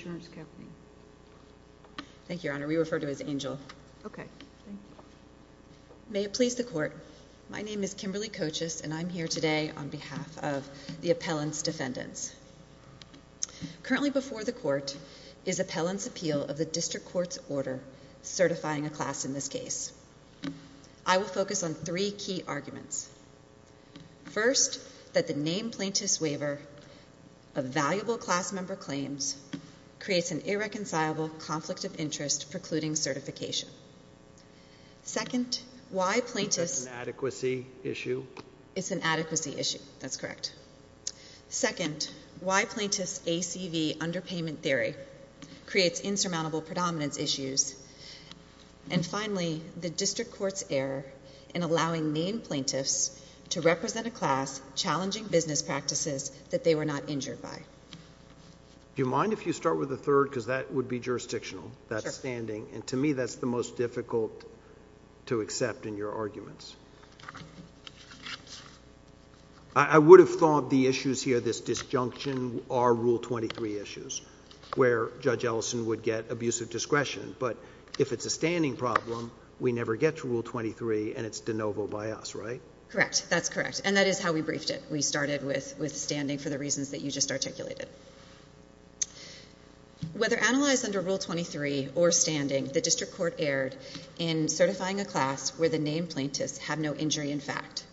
Thank you, Your Honor. We refer to it as Angell. Okay. May it please the Court, my name is Kimberly Cochis and I'm here today on behalf of the appellant's defendants. Currently before the Court is appellant's appeal of the District Court's order certifying a class in this case. I will focus on three key arguments. First, that the named plaintiff's waiver of valuable class member claims creates an irreconcilable conflict of interest precluding certification. Second, why plaintiff's... Is that an adequacy issue? It's an adequacy issue. That's correct. Second, why plaintiff's ACV underpayment theory creates insurmountable predominance issues. And finally, the District Court's error in allowing named plaintiffs to represent a class challenging business practices that they were not injured by. Do you mind if you start with the third because that would be jurisdictional? Sure. That's standing and to me that's the most difficult to accept in your arguments. I would have thought the issues here, this disjunction are Rule 23 issues where Judge Ellison would get abusive discretion. But if it's a standing problem, we never get to Rule 23 and it's de novo by us, right? Correct. That's correct. And that is how we briefed it. We started with standing for the reasons that you just articulated. Whether analyzed under Rule 23 or standing, the District Court erred in certifying a class where the named plaintiffs have no injury in fact.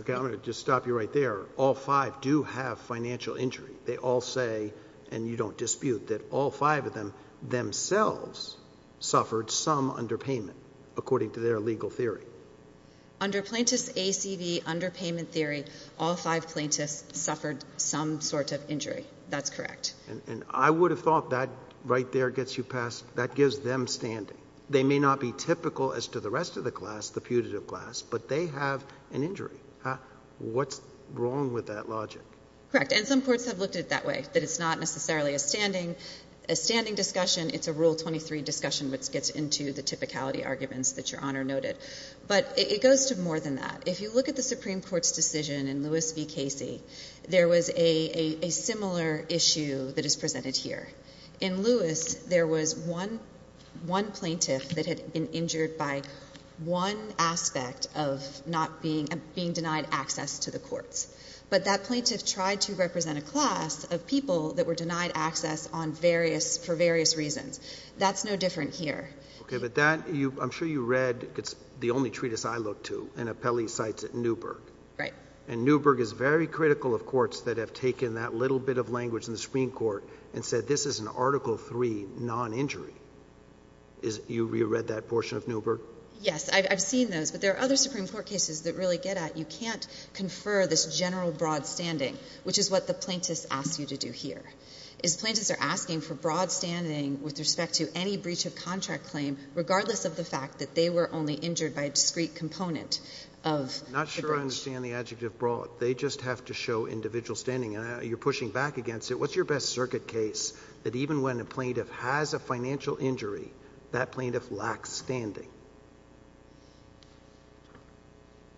Okay. I'm going to just stop you right there. All five do have financial injury. They all say, and you don't dispute, that all five of them themselves suffered some underpayment according to their legal theory. Under Plaintiff's ACV underpayment theory, all five plaintiffs suffered some sort of injury. That's correct. And I would have thought that right there gets you past – that gives them standing. They may not be typical as to the rest of the class, the putative class, but they have an injury. What's wrong with that logic? Correct. And some courts have looked at it that way, that it's not necessarily a standing discussion. It's a Rule 23 discussion which gets into the typicality arguments that Your Honor noted. But it goes to more than that. If you look at the Supreme Court's decision in Lewis v. Casey, there was a similar issue that is presented here. In Lewis, there was one plaintiff that had been injured by one aspect of not being – being denied access to the courts. But that plaintiff tried to represent a class of people that were denied access on various – for various reasons. That's no different here. Okay. But that – I'm sure you read – it's the only treatise I look to, an appellee cites at Newberg. Right. And Newberg is very critical of courts that have taken that little bit of language in the Supreme Court and said this is an Article III non-injury. You read that portion of Newberg? Yes. I've seen those. But there are other Supreme Court cases that really get at you can't confer this general broad standing, which is what the plaintiffs ask you to do here, is plaintiffs are asking for broad standing with respect to any breach of contract claim, regardless of the fact that they were only injured by a discrete component of the breach. I'm not sure I understand the adjective broad. They just have to show individual standing, and you're pushing back against it. What's your best circuit case that even when a plaintiff has a financial injury, that plaintiff lacks standing?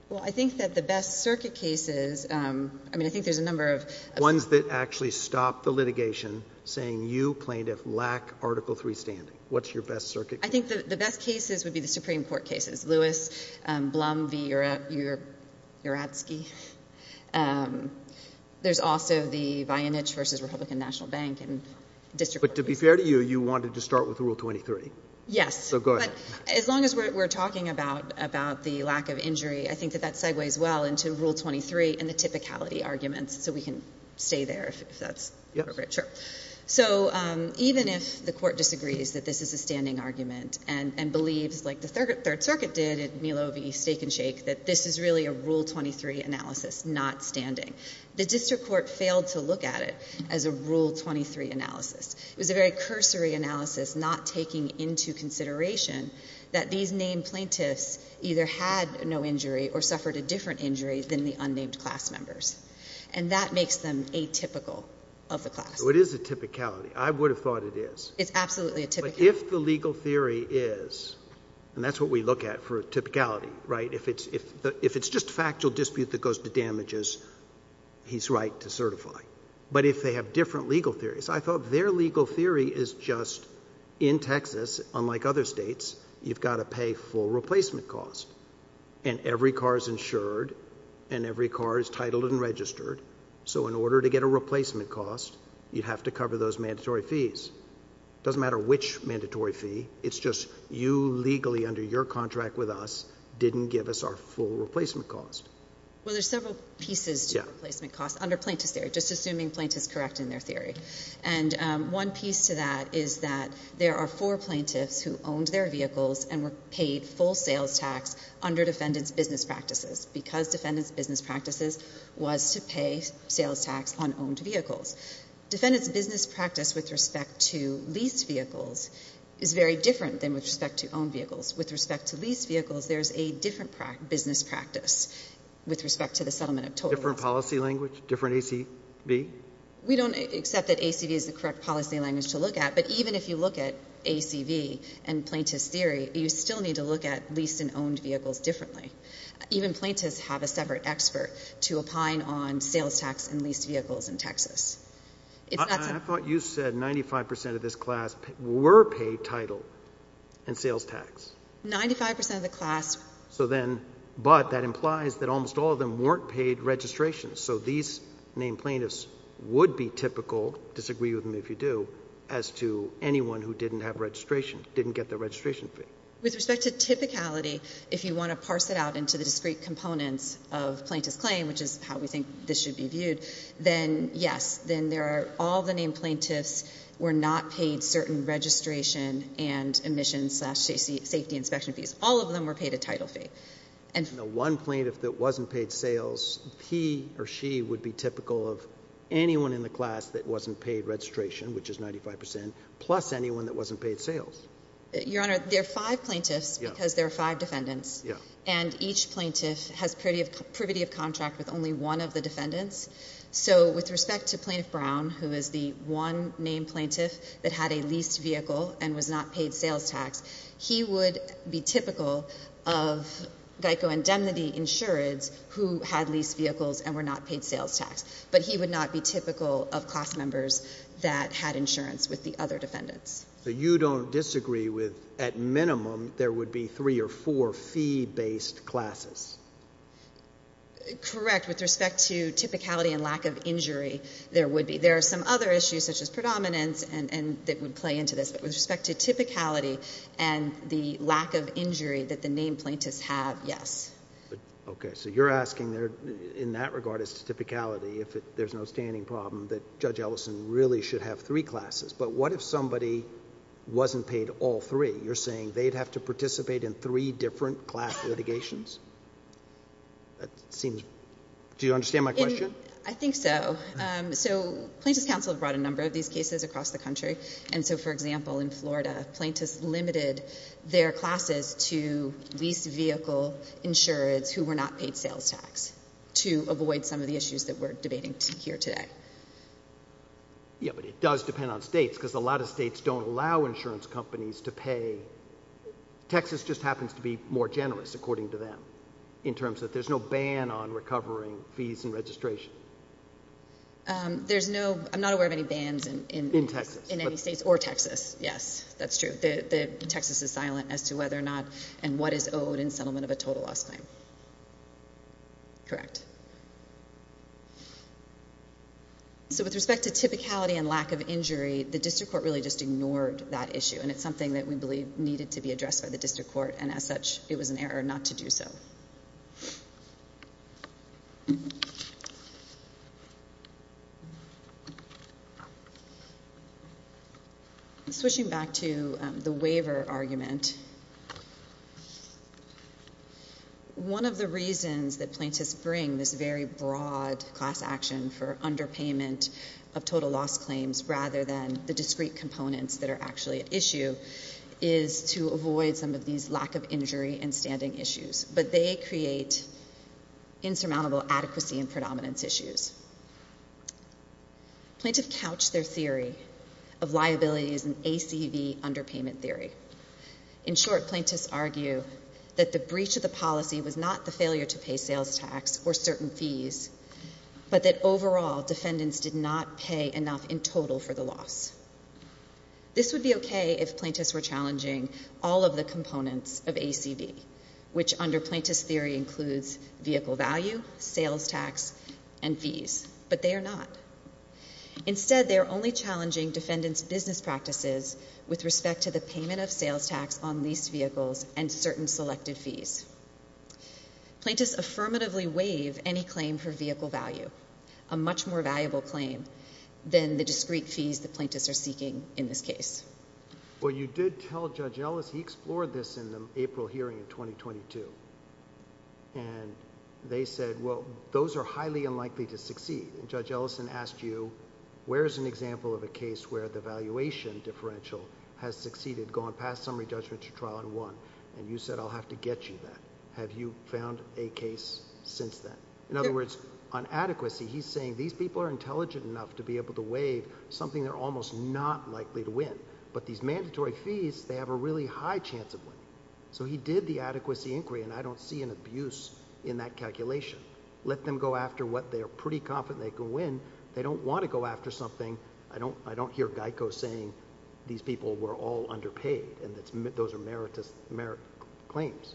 Well, I think that the best circuit cases – I mean, I think there's a number of – Ones that actually stop the litigation, saying you, plaintiff, lack Article III standing. What's your best circuit case? I think the best cases would be the Supreme Court cases, Lewis, Blum v. Uratsky. There's also the Voynich v. Republican National Bank and district court cases. But to be fair to you, you wanted to start with Rule 23. Yes. So go ahead. But as long as we're talking about the lack of injury, I think that that segues well into Rule 23 and the typicality arguments. So we can stay there, if that's appropriate. Yeah. Sure. So even if the Court disagrees that this is a standing argument and believes, like the Third Circuit did at Nilo v. Steak and Shake, that this is really a Rule 23 analysis, not standing, the district court failed to look at it as a Rule 23 analysis. It was a very cursory analysis not taking into consideration that these named plaintiffs either had no injury or suffered a different injury than the unnamed class members. And that makes them atypical of the class. So it is a typicality. I would have thought it is. It's absolutely a typicality. But if the legal theory is – and that's what we look at for a typicality, right? If it's just factual dispute that goes to damages, he's right to certify. But if they have different legal theories, I thought their legal theory is just in Texas, unlike other states, you've got to pay full replacement costs. And every car is insured and every car is titled and registered. So in order to get a replacement cost, you'd have to cover those mandatory fees. It doesn't matter which mandatory fee. It's just you legally under your contract with us didn't give us our full replacement cost. Well, there's several pieces to replacement costs under plaintiff's theory, just assuming plaintiff's correct in their theory. And one piece to that is that there are four plaintiffs who owned their vehicles and were paid full sales tax under defendant's business practices because defendant's business practices was to pay sales tax on owned vehicles. Defendant's business practice with respect to leased vehicles is very different than with respect to owned vehicles. With respect to leased vehicles, there's a different business practice with respect to the settlement of total loss. Different policy language? Different ACV? We don't accept that ACV is the correct policy language to look at. But even if you look at ACV and plaintiff's theory, you still need to look at leased and owned vehicles differently. Even plaintiffs have a separate expert to opine on sales tax and leased vehicles in Texas. I thought you said 95% of this class were paid title and sales tax. 95% of the class. So then, but that implies that almost all of them weren't paid registration. So these named plaintiffs would be typical, disagree with me if you do, as to anyone who didn't have registration, didn't get their registration fee. With respect to typicality, if you want to parse it out into the discrete components of plaintiff's claim, which is how we think this should be viewed, then yes, then there are all the named plaintiffs were not paid certain registration and admission slash safety inspection fees. All of them were paid a title fee. One plaintiff that wasn't paid sales, he or she would be typical of anyone in the class that wasn't paid registration, which is 95%, plus anyone that wasn't paid sales. Your Honor, there are five plaintiffs because there are five defendants. And each plaintiff has privity of contract with only one of the defendants. So with respect to Plaintiff Brown, who is the one named plaintiff that had a leased vehicle and was not paid sales tax, he would be typical of GEICO indemnity insureds who had leased vehicles and were not paid sales tax. But he would not be typical of class members that had insurance with the other defendants. So you don't disagree with at minimum there would be three or four fee-based classes? Correct. With respect to typicality and lack of injury, there would be. There are some other issues such as predominance that would play into this. But with respect to typicality and the lack of injury that the named plaintiffs have, yes. Okay. So you're asking in that regard as to typicality, if there's no standing problem, that Judge Ellison really should have three classes. But what if somebody wasn't paid all three? You're saying they'd have to participate in three different class litigations? Do you understand my question? I think so. So Plaintiffs' Council brought a number of these cases across the country. And so, for example, in Florida, plaintiffs limited their classes to leased vehicle insureds who were not paid sales tax to avoid some of the issues that we're debating here today. Yeah, but it does depend on states because a lot of states don't allow insurance companies to pay. Texas just happens to be more generous, according to them, in terms that there's no ban on recovering fees and registration. I'm not aware of any bans in any states or Texas. Yes, that's true. Texas is silent as to whether or not and what is owed in settlement of a total loss claim. Correct. So with respect to typicality and lack of injury, the district court really just ignored that issue, and it's something that we believe needed to be addressed by the district court, and as such, it was an error not to do so. Switching back to the waiver argument, one of the reasons that plaintiffs bring this very broad class action for underpayment of total loss claims rather than the discrete components that are actually at issue is to avoid some of these lack of injury and standing issues, but they create insurmountable adequacy and predominance issues. Plaintiffs couch their theory of liability as an ACV underpayment theory. In short, plaintiffs argue that the breach of the policy was not the failure to pay sales tax or certain fees, but that overall defendants did not pay enough in total for the loss. This would be okay if plaintiffs were challenging all of the components of ACV, which under plaintiffs' theory includes vehicle value, sales tax, and fees, but they are not. Instead, they are only challenging defendants' business practices with respect to the payment of sales tax on leased vehicles and certain selected fees. Plaintiffs affirmatively waive any claim for vehicle value, a much more valuable claim than the discrete fees the plaintiffs are seeking in this case. Well, you did tell Judge Ellis he explored this in the April hearing in 2022, and they said, well, those are highly unlikely to succeed, and Judge Ellis asked you where is an example of a case where the valuation differential has succeeded, gone past summary judgment to trial and won, and you said I'll have to get you that. Have you found a case since then? In other words, on adequacy, he's saying these people are intelligent enough to be able to waive something they're almost not likely to win, but these mandatory fees, they have a really high chance of winning, so he did the adequacy inquiry, and I don't see an abuse in that calculation. Let them go after what they are pretty confident they can win. They don't want to go after something. I don't hear GEICO saying these people were all underpaid and those are merit claims.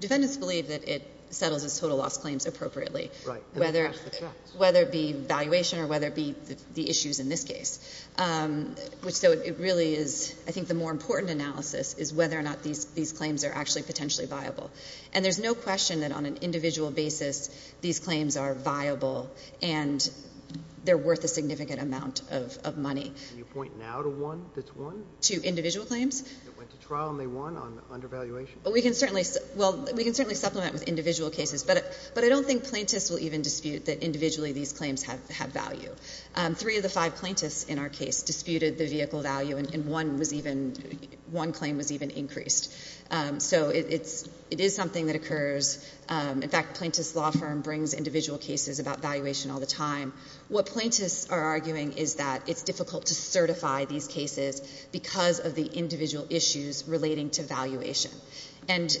Defendants believe that it settles its total loss claims appropriately, whether it be valuation or whether it be the issues in this case. So it really is, I think, the more important analysis is whether or not these claims are actually potentially viable, and there's no question that on an individual basis these claims are viable and they're worth a significant amount of money. Can you point now to one that's won? To individual claims? That went to trial and they won under valuation? Well, we can certainly supplement with individual cases, but I don't think plaintiffs will even dispute that individually these claims have value. Three of the five plaintiffs in our case disputed the vehicle value, and one was even, one claim was even increased. So it is something that occurs. In fact, the plaintiff's law firm brings individual cases about valuation all the time. What plaintiffs are arguing is that it's difficult to certify these cases because of the individual issues relating to valuation. And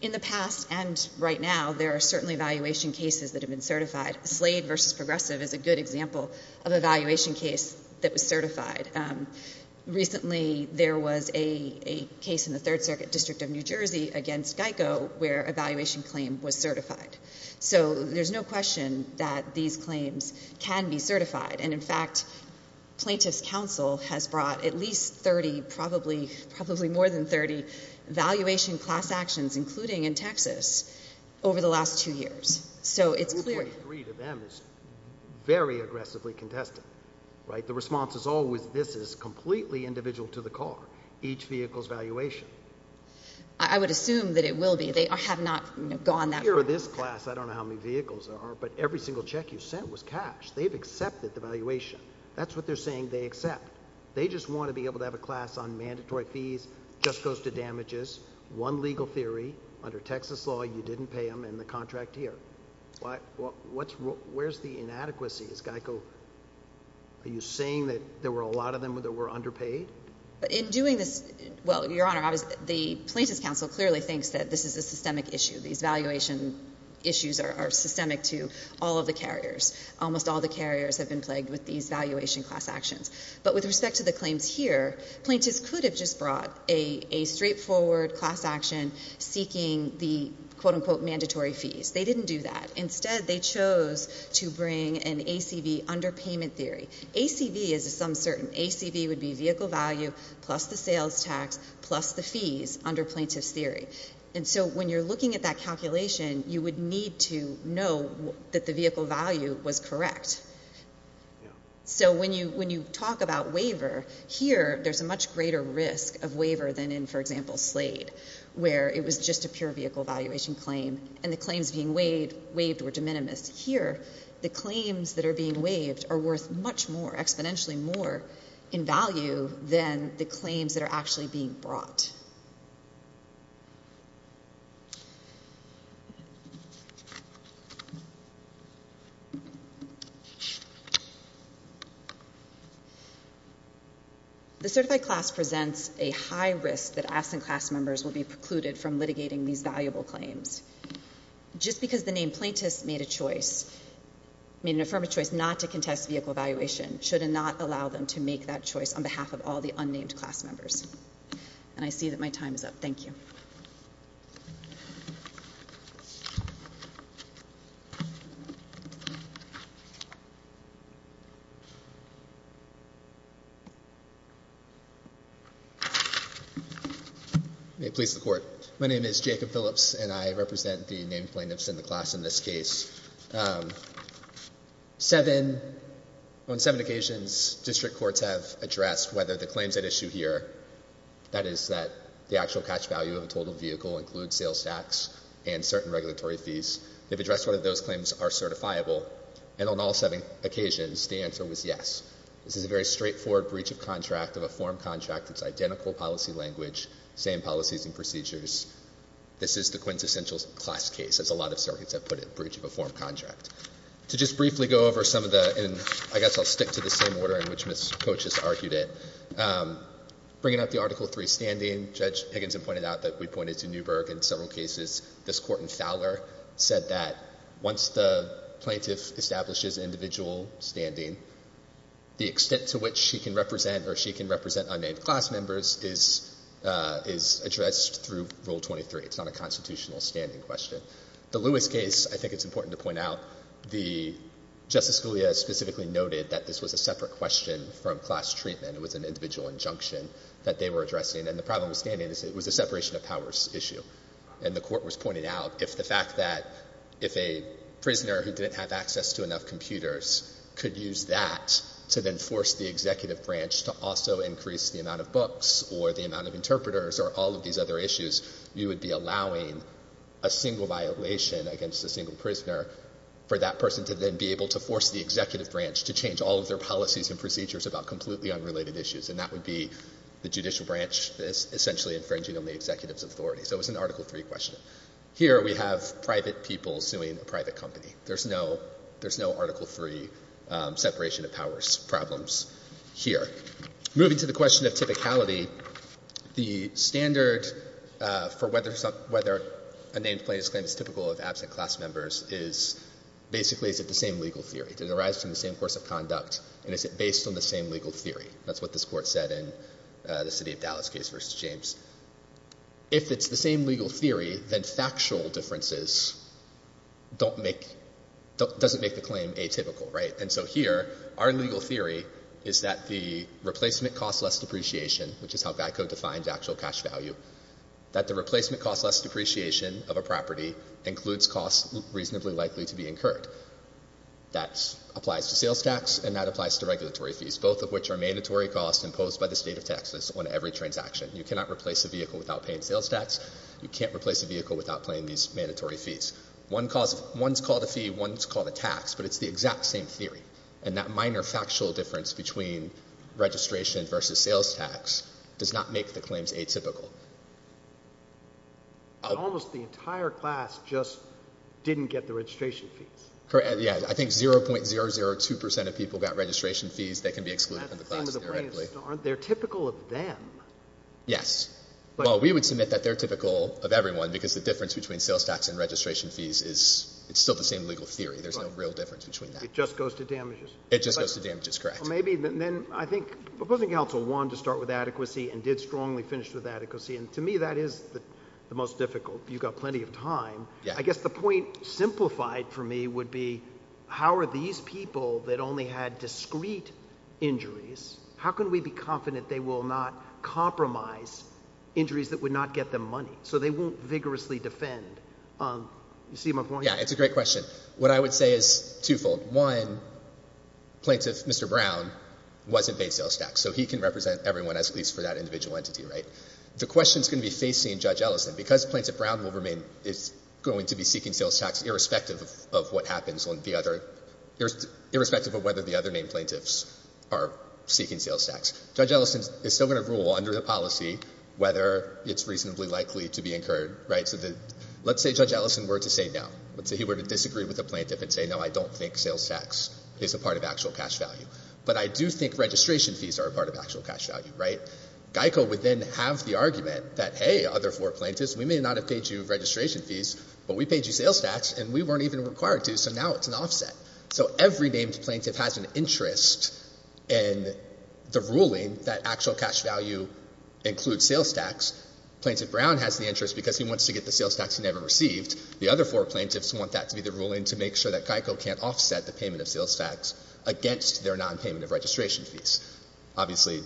in the past and right now, there are certainly valuation cases that have been certified. Slade v. Progressive is a good example of a valuation case that was certified. Recently, there was a case in the Third Circuit District of New Jersey against GEICO where a valuation claim was certified. So there's no question that these claims can be certified. And in fact, Plaintiff's Counsel has brought at least 30, probably more than 30, valuation class actions, including in Texas, over the last two years. So it's clear to them it's very aggressively contested. The response is always this is completely individual to the car, each vehicle's valuation. I would assume that it will be. They have not gone that far. Here in this class, I don't know how many vehicles there are, but every single check you sent was cash. They've accepted the valuation. That's what they're saying they accept. They just want to be able to have a class on mandatory fees, just goes to damages, one legal theory. Under Texas law, you didn't pay them, and the contract here. Where's the inadequacy? Is GEICO – are you saying that there were a lot of them that were underpaid? In doing this – well, Your Honor, the Plaintiff's Counsel clearly thinks that this is a systemic issue. These valuation issues are systemic to all of the carriers. Almost all the carriers have been plagued with these valuation class actions. But with respect to the claims here, Plaintiff's could have just brought a straightforward class action seeking the, quote-unquote, mandatory fees. They didn't do that. Instead, they chose to bring an ACV underpayment theory. ACV is some certain – ACV would be vehicle value plus the sales tax plus the fees under Plaintiff's theory. And so when you're looking at that calculation, you would need to know that the vehicle value was correct. So when you talk about waiver, here there's a much greater risk of waiver than in, for example, Slade, where it was just a pure vehicle valuation claim and the claims being waived were de minimis. Here, the claims that are being waived are worth much more, exponentially more, in value than the claims that are actually being brought. All right. The certified class presents a high risk that absent class members will be precluded from litigating these valuable claims. Just because the named plaintiffs made a choice, made an affirmative choice not to contest vehicle valuation, should not allow them to make that choice on behalf of all the unnamed class members. And I see that my time is up. Thank you. May it please the Court. My name is Jacob Phillips, and I represent the named plaintiffs in the class in this case. On seven occasions, district courts have addressed whether the claims at issue here, that is that the actual catch value of a total vehicle includes sales tax and certain regulatory fees, they've addressed whether those claims are certifiable. And on all seven occasions, the answer was yes. This is a very straightforward breach of contract of a form contract. It's identical policy language, same policies and procedures. This is the quintessential class case, as a lot of circuits have put it, breach of a form contract. To just briefly go over some of the, and I guess I'll stick to the same order in which Ms. Coates just argued it. Bringing up the Article III standing, Judge Higginson pointed out that we pointed to Newburgh in several cases. This Court in Fowler said that once the plaintiff establishes individual standing, the extent to which she can represent or she can represent unnamed class members is addressed through Rule 23. It's not a constitutional standing question. The Lewis case, I think it's important to point out, Justice Scalia specifically noted that this was a separate question from class treatment. It was an individual injunction that they were addressing. And the problem with standing is it was a separation of powers issue. And the Court was pointing out if the fact that if a prisoner who didn't have access to enough computers could use that to then force the executive branch to also increase the amount of books or the amount of interpreters or all of these other issues, you would be allowing a single violation against a single prisoner for that person to then be able to force the executive branch to change all of their policies and procedures about completely unrelated issues. And that would be the judicial branch essentially infringing on the executive's authority. So it was an Article III question. Here we have private people suing a private company. There's no Article III separation of powers problems here. Moving to the question of typicality, the standard for whether a named plaintiff's claim is typical of absent class members is basically is it the same legal theory? Does it arise from the same course of conduct? And is it based on the same legal theory? That's what this Court said in the City of Dallas case v. James. If it's the same legal theory, then factual differences doesn't make the claim atypical, right? And so here our legal theory is that the replacement cost less depreciation, which is how Geico defines actual cash value, that the replacement cost less depreciation of a property includes costs reasonably likely to be incurred. That applies to sales tax and that applies to regulatory fees, both of which are mandatory costs imposed by the State of Texas on every transaction. You cannot replace a vehicle without paying sales tax. You can't replace a vehicle without paying these mandatory fees. One's called a fee, one's called a tax, but it's the exact same theory. And that minor factual difference between registration versus sales tax does not make the claims atypical. Almost the entire class just didn't get the registration fees. Correct, yeah. I think 0.002 percent of people got registration fees. They can be excluded from the class theoretically. They're typical of them. Yes. Well, we would submit that they're typical of everyone because the difference between sales tax and registration fees is still the same legal theory. There's no real difference between that. It just goes to damages. It just goes to damages, correct. Well, maybe then I think proposing counsel wanted to start with adequacy and did strongly finish with adequacy, and to me that is the most difficult. You've got plenty of time. I guess the point simplified for me would be how are these people that only had discrete injuries, how can we be confident they will not compromise injuries that would not get them money so they won't vigorously defend? You see my point? Yeah, it's a great question. What I would say is twofold. One, Plaintiff Mr. Brown wasn't paid sales tax, so he can represent everyone, at least for that individual entity, right? The question is going to be facing Judge Ellison. Because Plaintiff Brown is going to be seeking sales tax irrespective of what happens, irrespective of whether the other named plaintiffs are seeking sales tax. Judge Ellison is still going to rule under the policy whether it's reasonably likely to be incurred, right? Let's say Judge Ellison were to say no. Let's say he were to disagree with the plaintiff and say, no, I don't think sales tax is a part of actual cash value. But I do think registration fees are a part of actual cash value, right? Geico would then have the argument that, hey, other four plaintiffs, we may not have paid you registration fees, but we paid you sales tax and we weren't even required to, so now it's an offset. So every named plaintiff has an interest in the ruling that actual cash value includes sales tax. Plaintiff Brown has the interest because he wants to get the sales tax he never received. The other four plaintiffs want that to be the ruling to make sure that Geico can't offset the payment of sales tax against their nonpayment of registration fees. Obviously,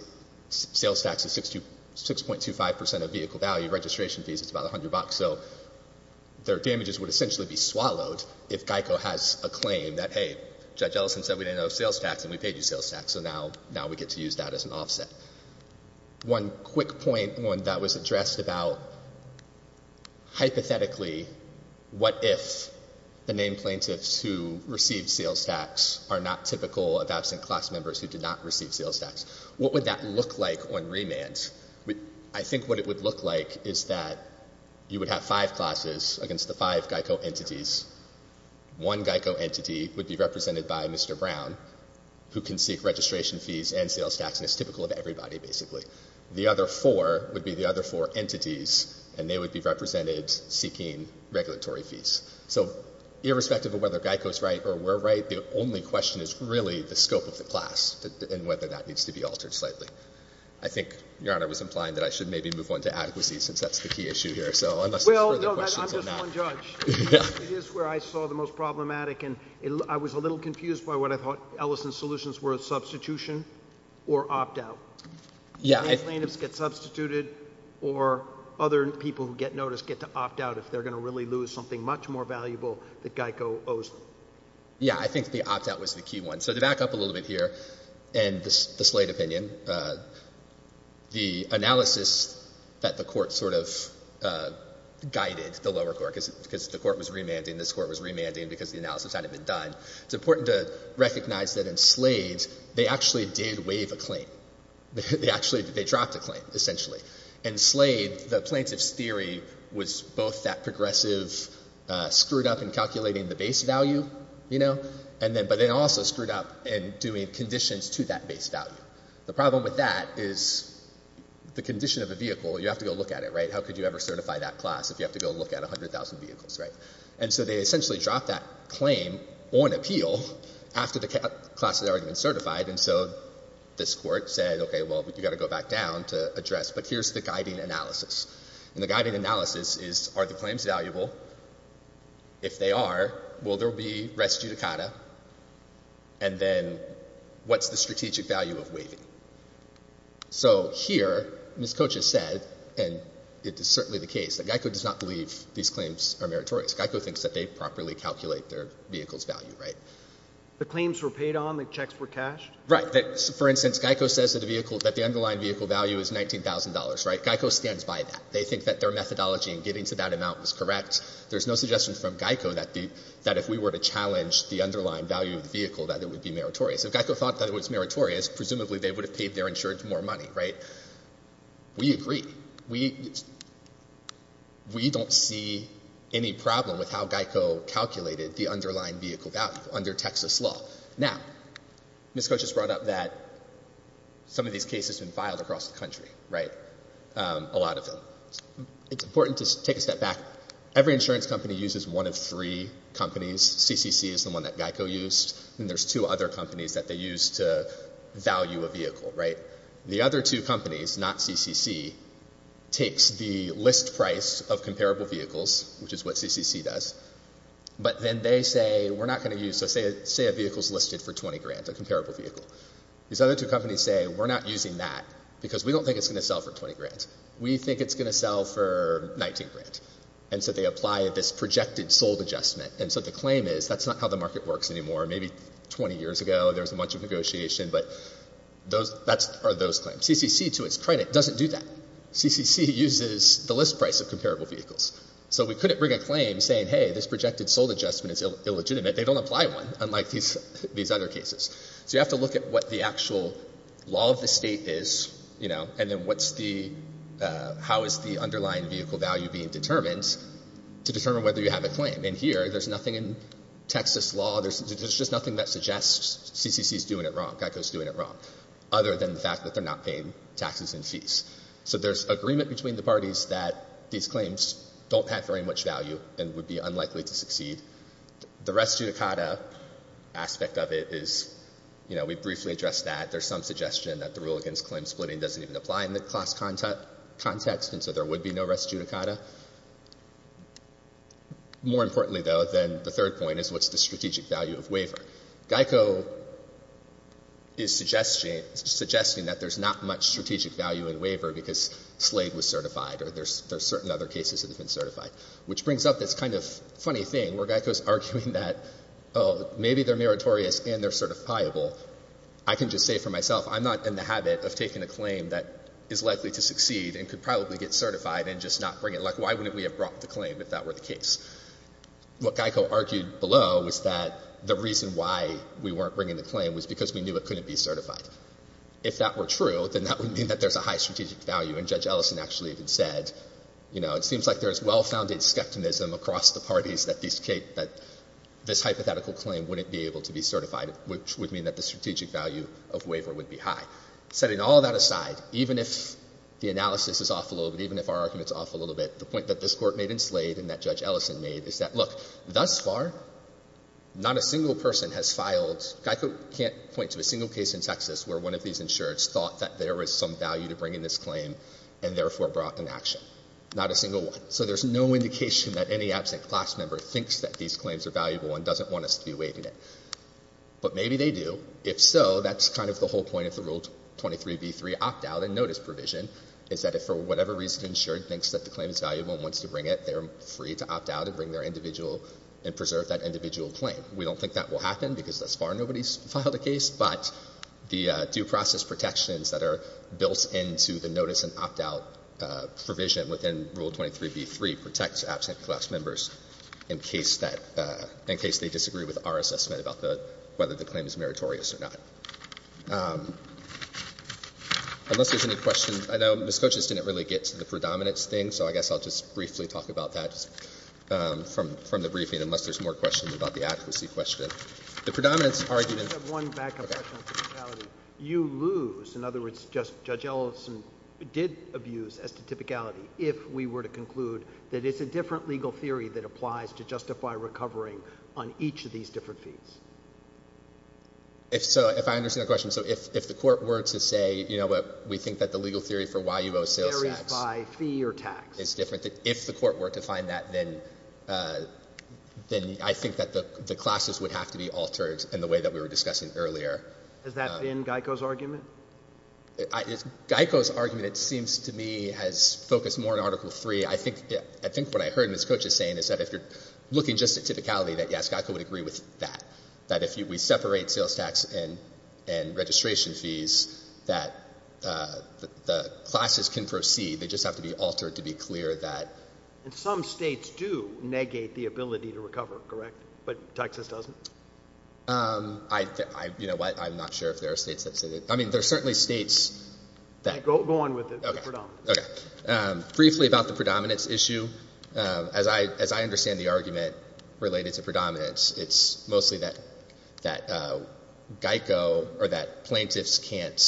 sales tax is 6.25% of vehicle value. Registration fees, it's about $100. So their damages would essentially be swallowed if Geico has a claim that, hey, Judge Ellison said we didn't owe sales tax and we paid you sales tax, so now we get to use that as an offset. One quick point that was addressed about hypothetically what if the named plaintiffs who received sales tax are not typical of absent class members who did not receive sales tax. What would that look like on remand? I think what it would look like is that you would have five classes against the five Geico entities. One Geico entity would be represented by Mr. Brown, who can seek registration fees and sales tax and is typical of everybody, basically. The other four would be the other four entities, and they would be represented seeking regulatory fees. So irrespective of whether Geico is right or we're right, the only question is really the scope of the class and whether that needs to be altered slightly. I think Your Honor was implying that I should maybe move on to adequacy since that's the key issue here. Well, no, I'm just one judge. It is where I saw the most problematic, and I was a little confused by what I thought Ellison's solutions were, substitution or opt-out. Yeah. Named plaintiffs get substituted or other people who get noticed get to opt-out if they're going to really lose something much more valuable that Geico owes them. Yeah, I think the opt-out was the key one. So to back up a little bit here and the Slade opinion, the analysis that the court sort of guided, the lower court, because the court was remanding, this court was remanding because the analysis hadn't been done, it's important to recognize that in Slade they actually did waive a claim. They actually dropped a claim, essentially. In Slade, the plaintiff's theory was both that progressive screwed up in calculating the base value, you know, but they also screwed up in doing conditions to that base value. The problem with that is the condition of a vehicle, you have to go look at it, right? How could you ever certify that class if you have to go look at 100,000 vehicles, right? And so they essentially dropped that claim on appeal after the class had already been certified, and so this court said, okay, well, you've got to go back down to address, but here's the guiding analysis. And the guiding analysis is are the claims valuable? If they are, will there be res judicata? And then what's the strategic value of waiving? So here Ms. Koch has said, and it is certainly the case, that GEICO does not believe these claims are meritorious. GEICO thinks that they properly calculate their vehicle's value, right? The claims were paid on, the checks were cashed? Right. For instance, GEICO says that the underlying vehicle value is $19,000, right? GEICO stands by that. They think that their methodology in getting to that amount was correct. There's no suggestion from GEICO that if we were to challenge the underlying value of the vehicle, that it would be meritorious. If GEICO thought that it was meritorious, presumably they would have paid their insurance more money, right? We agree. We don't see any problem with how GEICO calculated the underlying vehicle value under Texas law. Now, Ms. Koch has brought up that some of these cases have been filed across the country, right? A lot of them. It's important to take a step back. Every insurance company uses one of three companies. CCC is the one that GEICO used, and there's two other companies that they use to value a vehicle, right? The other two companies, not CCC, takes the list price of comparable vehicles, which is what CCC does, but then they say, we're not going to use this. Say a vehicle is listed for $20,000, a comparable vehicle. These other two companies say, we're not using that because we don't think it's going to sell for $20,000. We think it's going to sell for $19,000. And so they apply this projected sold adjustment. And so the claim is that's not how the market works anymore. Maybe 20 years ago there was a bunch of negotiation, but those are those claims. CCC, to its credit, doesn't do that. CCC uses the list price of comparable vehicles. So we couldn't bring a claim saying, hey, this projected sold adjustment is illegitimate. They don't apply one, unlike these other cases. So you have to look at what the actual law of the state is, you know, and then how is the underlying vehicle value being determined to determine whether you have a claim. And here there's nothing in Texas law. There's just nothing that suggests CCC is doing it wrong, GEICO is doing it wrong, other than the fact that they're not paying taxes and fees. So there's agreement between the parties that these claims don't have very much value and would be unlikely to succeed. The res judicata aspect of it is, you know, we briefly addressed that. There's some suggestion that the rule against claim splitting doesn't even apply in the class context, and so there would be no res judicata. More importantly, though, than the third point is what's the strategic value of waiver. GEICO is suggesting that there's not much strategic value in waiver because Slade was certified or there's certain other cases that have been certified, which brings up this kind of funny thing where GEICO is arguing that, oh, maybe they're meritorious and they're certifiable. I can just say for myself I'm not in the habit of taking a claim that is likely to succeed and could probably get certified and just not bring it. Like, why wouldn't we have brought the claim if that were the case? What GEICO argued below was that the reason why we weren't bringing the claim was because we knew it couldn't be certified. If that were true, then that would mean that there's a high strategic value. And Judge Ellison actually even said, you know, it seems like there's well-founded skepticism across the parties that this hypothetical claim wouldn't be able to be certified, which would mean that the strategic value of waiver would be high. Setting all that aside, even if the analysis is off a little bit, even if our argument is off a little bit, the point that this Court made in Slade and that Judge Ellison made is that, look, thus far, not a single person has filed, GEICO can't point to a single case in Texas where one of these insureds thought that there was some value to bringing this claim and therefore brought an action. Not a single one. So there's no indication that any absent class member thinks that these claims are valuable and doesn't want us to be waiving it. But maybe they do. If so, that's kind of the whole point of the Rule 23b3 opt-out and notice provision, is that if for whatever reason an insured thinks that the claim is valuable and wants to bring it, they're free to opt out and bring their individual and preserve that individual claim. We don't think that will happen because thus far nobody's filed a case, but the due process protections that are built into the notice and opt-out provision within Rule 23b3 protects absent class members in case that they disagree with our assessment about whether the claim is meritorious or not. Unless there's any questions. I know Ms. Cochise didn't really get to the predominance thing, so I guess I'll just briefly talk about that from the briefing, unless there's more questions about the accuracy question. The predominance argument. I just have one backup question on typicality. You lose. In other words, Judge Ellison did abuse as to typicality if we were to conclude that it's a different legal theory that applies to justify recovering on each of these different fees. If so, if I understand the question, so if the court were to say, you know, we think that the legal theory for why you owe sales tax is different, that if the court were to find that, then I think that the classes would have to be altered in the way that we were discussing earlier. Has that been Geico's argument? Geico's argument, it seems to me, has focused more on Article III. I think what I heard Ms. Cochise saying is that if you're looking just at typicality, that, yes, Geico would agree with that, that if we separate sales tax and registration fees, that the classes can proceed. They just have to be altered to be clear that. Some states do negate the ability to recover, correct? But Texas doesn't? You know what? I'm not sure if there are states that say that. I mean, there are certainly states that. Go on with it. Okay. Briefly about the predominance issue. As I understand the argument related to predominance, it's mostly that Geico or that plaintiffs can't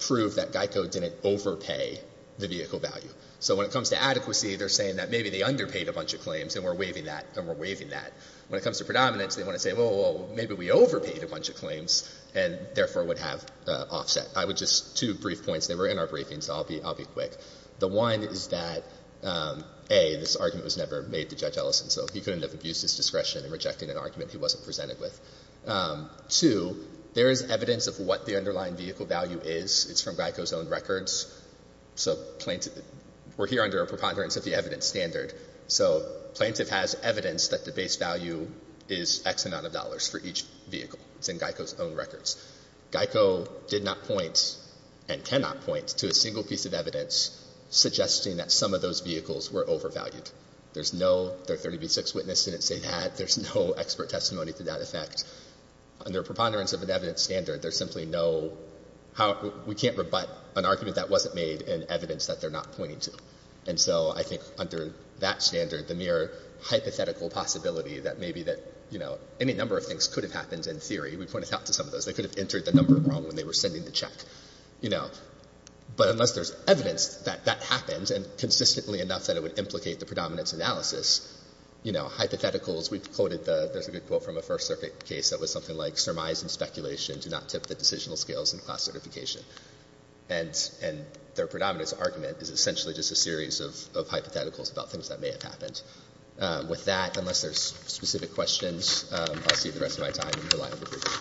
prove that Geico didn't overpay the vehicle value. So when it comes to adequacy, they're saying that maybe they underpaid a bunch of claims, and we're waiving that, and we're waiving that. When it comes to predominance, they want to say, well, maybe we overpaid a bunch of claims and, therefore, would have offset. I would just, two brief points. They were in our briefings, so I'll be quick. The one is that, A, this argument was never made to Judge Ellison, so he couldn't have abused his discretion and rejected an argument he wasn't presented with. Two, there is evidence of what the underlying vehicle value is. It's from Geico's own records. So plaintiff, we're here under a preponderance of the evidence standard. So plaintiff has evidence that the base value is X amount of dollars for each vehicle. It's in Geico's own records. Geico did not point and cannot point to a single piece of evidence suggesting that some of those vehicles were overvalued. There's no, their 30B6 witness didn't say that. There's no expert testimony to that effect. Under preponderance of an evidence standard, there's simply no, we can't rebut an argument that wasn't made in evidence that they're not pointing to. And so I think under that standard, the mere hypothetical possibility that maybe that, you know, any number of things could have happened in theory. We pointed out to some of those. They could have entered the number wrong when they were sending the check, you know. But unless there's evidence that that happens and consistently enough that it would implicate the predominance analysis, you know, hypotheticals, we've quoted the, there's a good quote from a First Circuit case that was something like, surmise and speculation do not tip the decisional scales in class certification. And their predominance argument is essentially just a series of hypotheticals about things that may have happened. With that, unless there's specific questions, I'll save the rest of my time and rely on the briefing.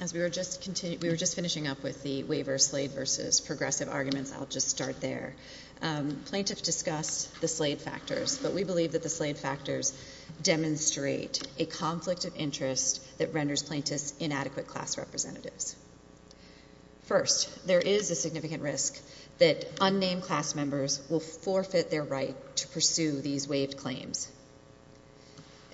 As we were just, we were just finishing up with the waiver, slave versus progressive arguments, I'll just start there. Plaintiffs discussed the slave factors, but we believe that the slave factors demonstrate a conflict of interest that renders plaintiffs inadequate class representatives. First, there is a significant risk that unnamed class members will forfeit their right to pursue these waived claims.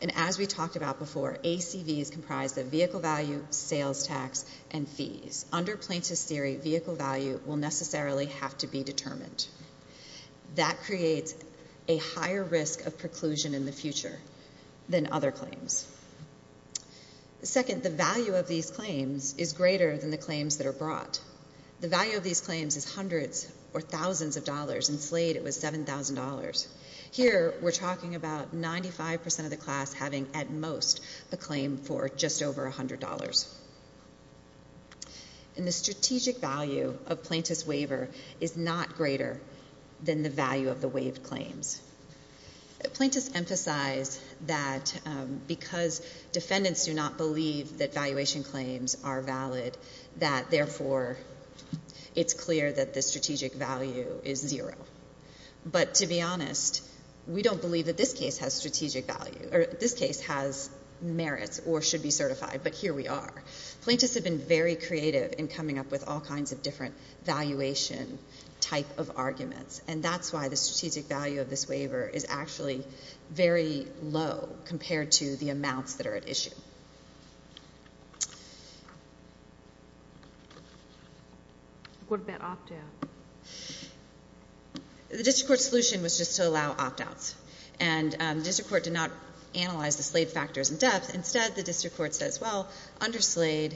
And as we talked about before, ACVs comprise the vehicle value, sales tax, and fees. Under plaintiff's theory, vehicle value will necessarily have to be determined. That creates a higher risk of preclusion in the future than other claims. Second, the value of these claims is greater than the claims that are brought. The value of these claims is hundreds or thousands of dollars. In Slade, it was $7,000. Here, we're talking about 95% of the class having, at most, a claim for just over $100. And the strategic value of plaintiff's waiver is not greater than the value of the waived claims. Plaintiffs emphasize that because defendants do not believe that valuation claims are valid, that therefore, it's clear that the strategic value is zero. But to be honest, we don't believe that this case has strategic value, or this case has merits or should be certified, but here we are. Plaintiffs have been very creative in coming up with all kinds of different valuation type of arguments, and that's why the strategic value of this waiver is actually very low compared to the amounts that are at issue. What about opt-outs? The district court's solution was just to allow opt-outs, and the district court did not analyze the Slade factors in depth. Instead, the district court says, well, under Slade,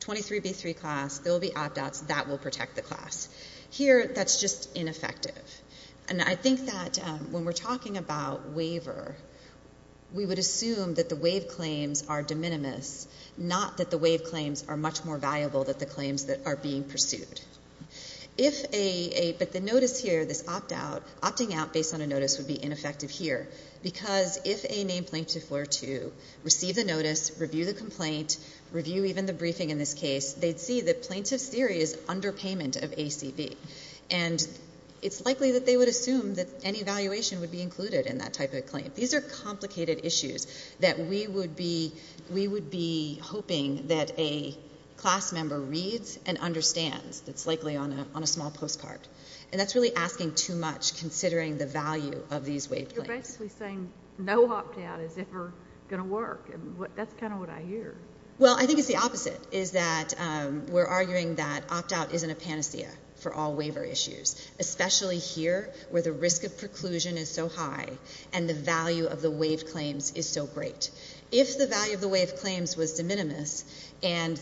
23B3 class, there will be opt-outs. That will protect the class. Here, that's just ineffective. And I think that when we're talking about waiver, we would assume that the waived claims are de minimis, not that the waived claims are much more valuable than the claims that are being pursued. But the notice here, this opt-out, opting out based on a notice would be ineffective here because if a named plaintiff were to receive the notice, review the complaint, review even the briefing in this case, they'd see that plaintiff's theory is underpayment of ACB. And it's likely that they would assume that any valuation would be included in that type of claim. These are complicated issues that we would be hoping that a class member reads and understands. It's likely on a small postcard. And that's really asking too much considering the value of these waived claims. You're basically saying no opt-out is ever going to work. That's kind of what I hear. Well, I think it's the opposite, is that we're arguing that opt-out isn't a panacea for all waiver issues, especially here where the risk of preclusion is so high and the value of the waived claims is so great. If the value of the waived claims was de minimis or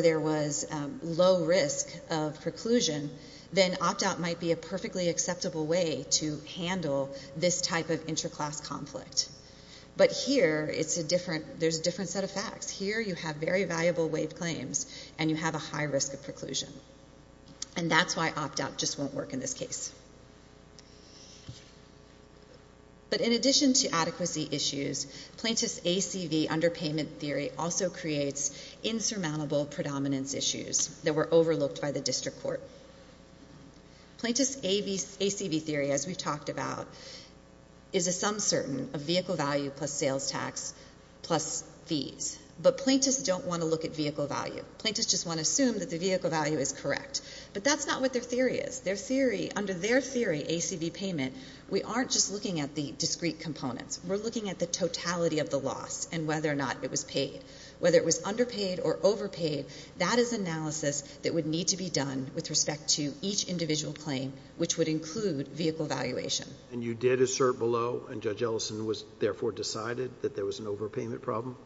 there was low risk of preclusion, then opt-out might be a perfectly acceptable way to handle this type of interclass conflict. But here, there's a different set of facts. Here you have very valuable waived claims and you have a high risk of preclusion. And that's why opt-out just won't work in this case. But in addition to adequacy issues, plaintiff's ACV underpayment theory also creates insurmountable predominance issues that were overlooked by the district court. Plaintiff's ACV theory, as we've talked about, is a sum certain of vehicle value plus sales tax plus fees. But plaintiffs don't want to look at vehicle value. Plaintiffs just want to assume that the vehicle value is correct. But that's not what their theory is. Under their theory, ACV payment, we aren't just looking at the discrete components. We're looking at the totality of the loss and whether or not it was paid. Whether it was underpaid or overpaid, that is analysis that would need to be done with respect to each individual claim, which would include vehicle valuation. And you did assert below, and Judge Ellison therefore decided that there was an overpayment problem?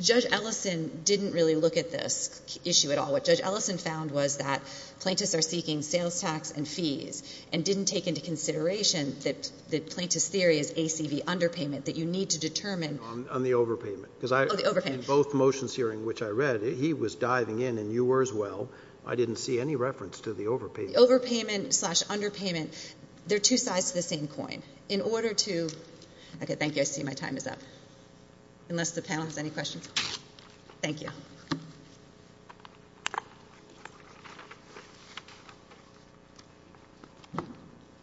Judge Ellison didn't really look at this issue at all. What Judge Ellison found was that plaintiffs are seeking sales tax and fees and didn't take into consideration that the plaintiff's theory is ACV underpayment, that you need to determine. On the overpayment. Oh, the overpayment. Because in both motions here in which I read, he was diving in and you were as well. I didn't see any reference to the overpayment. Overpayment slash underpayment, they're two sides to the same coin. In order to – okay, thank you. I see my time is up, unless the panel has any questions. Thank you.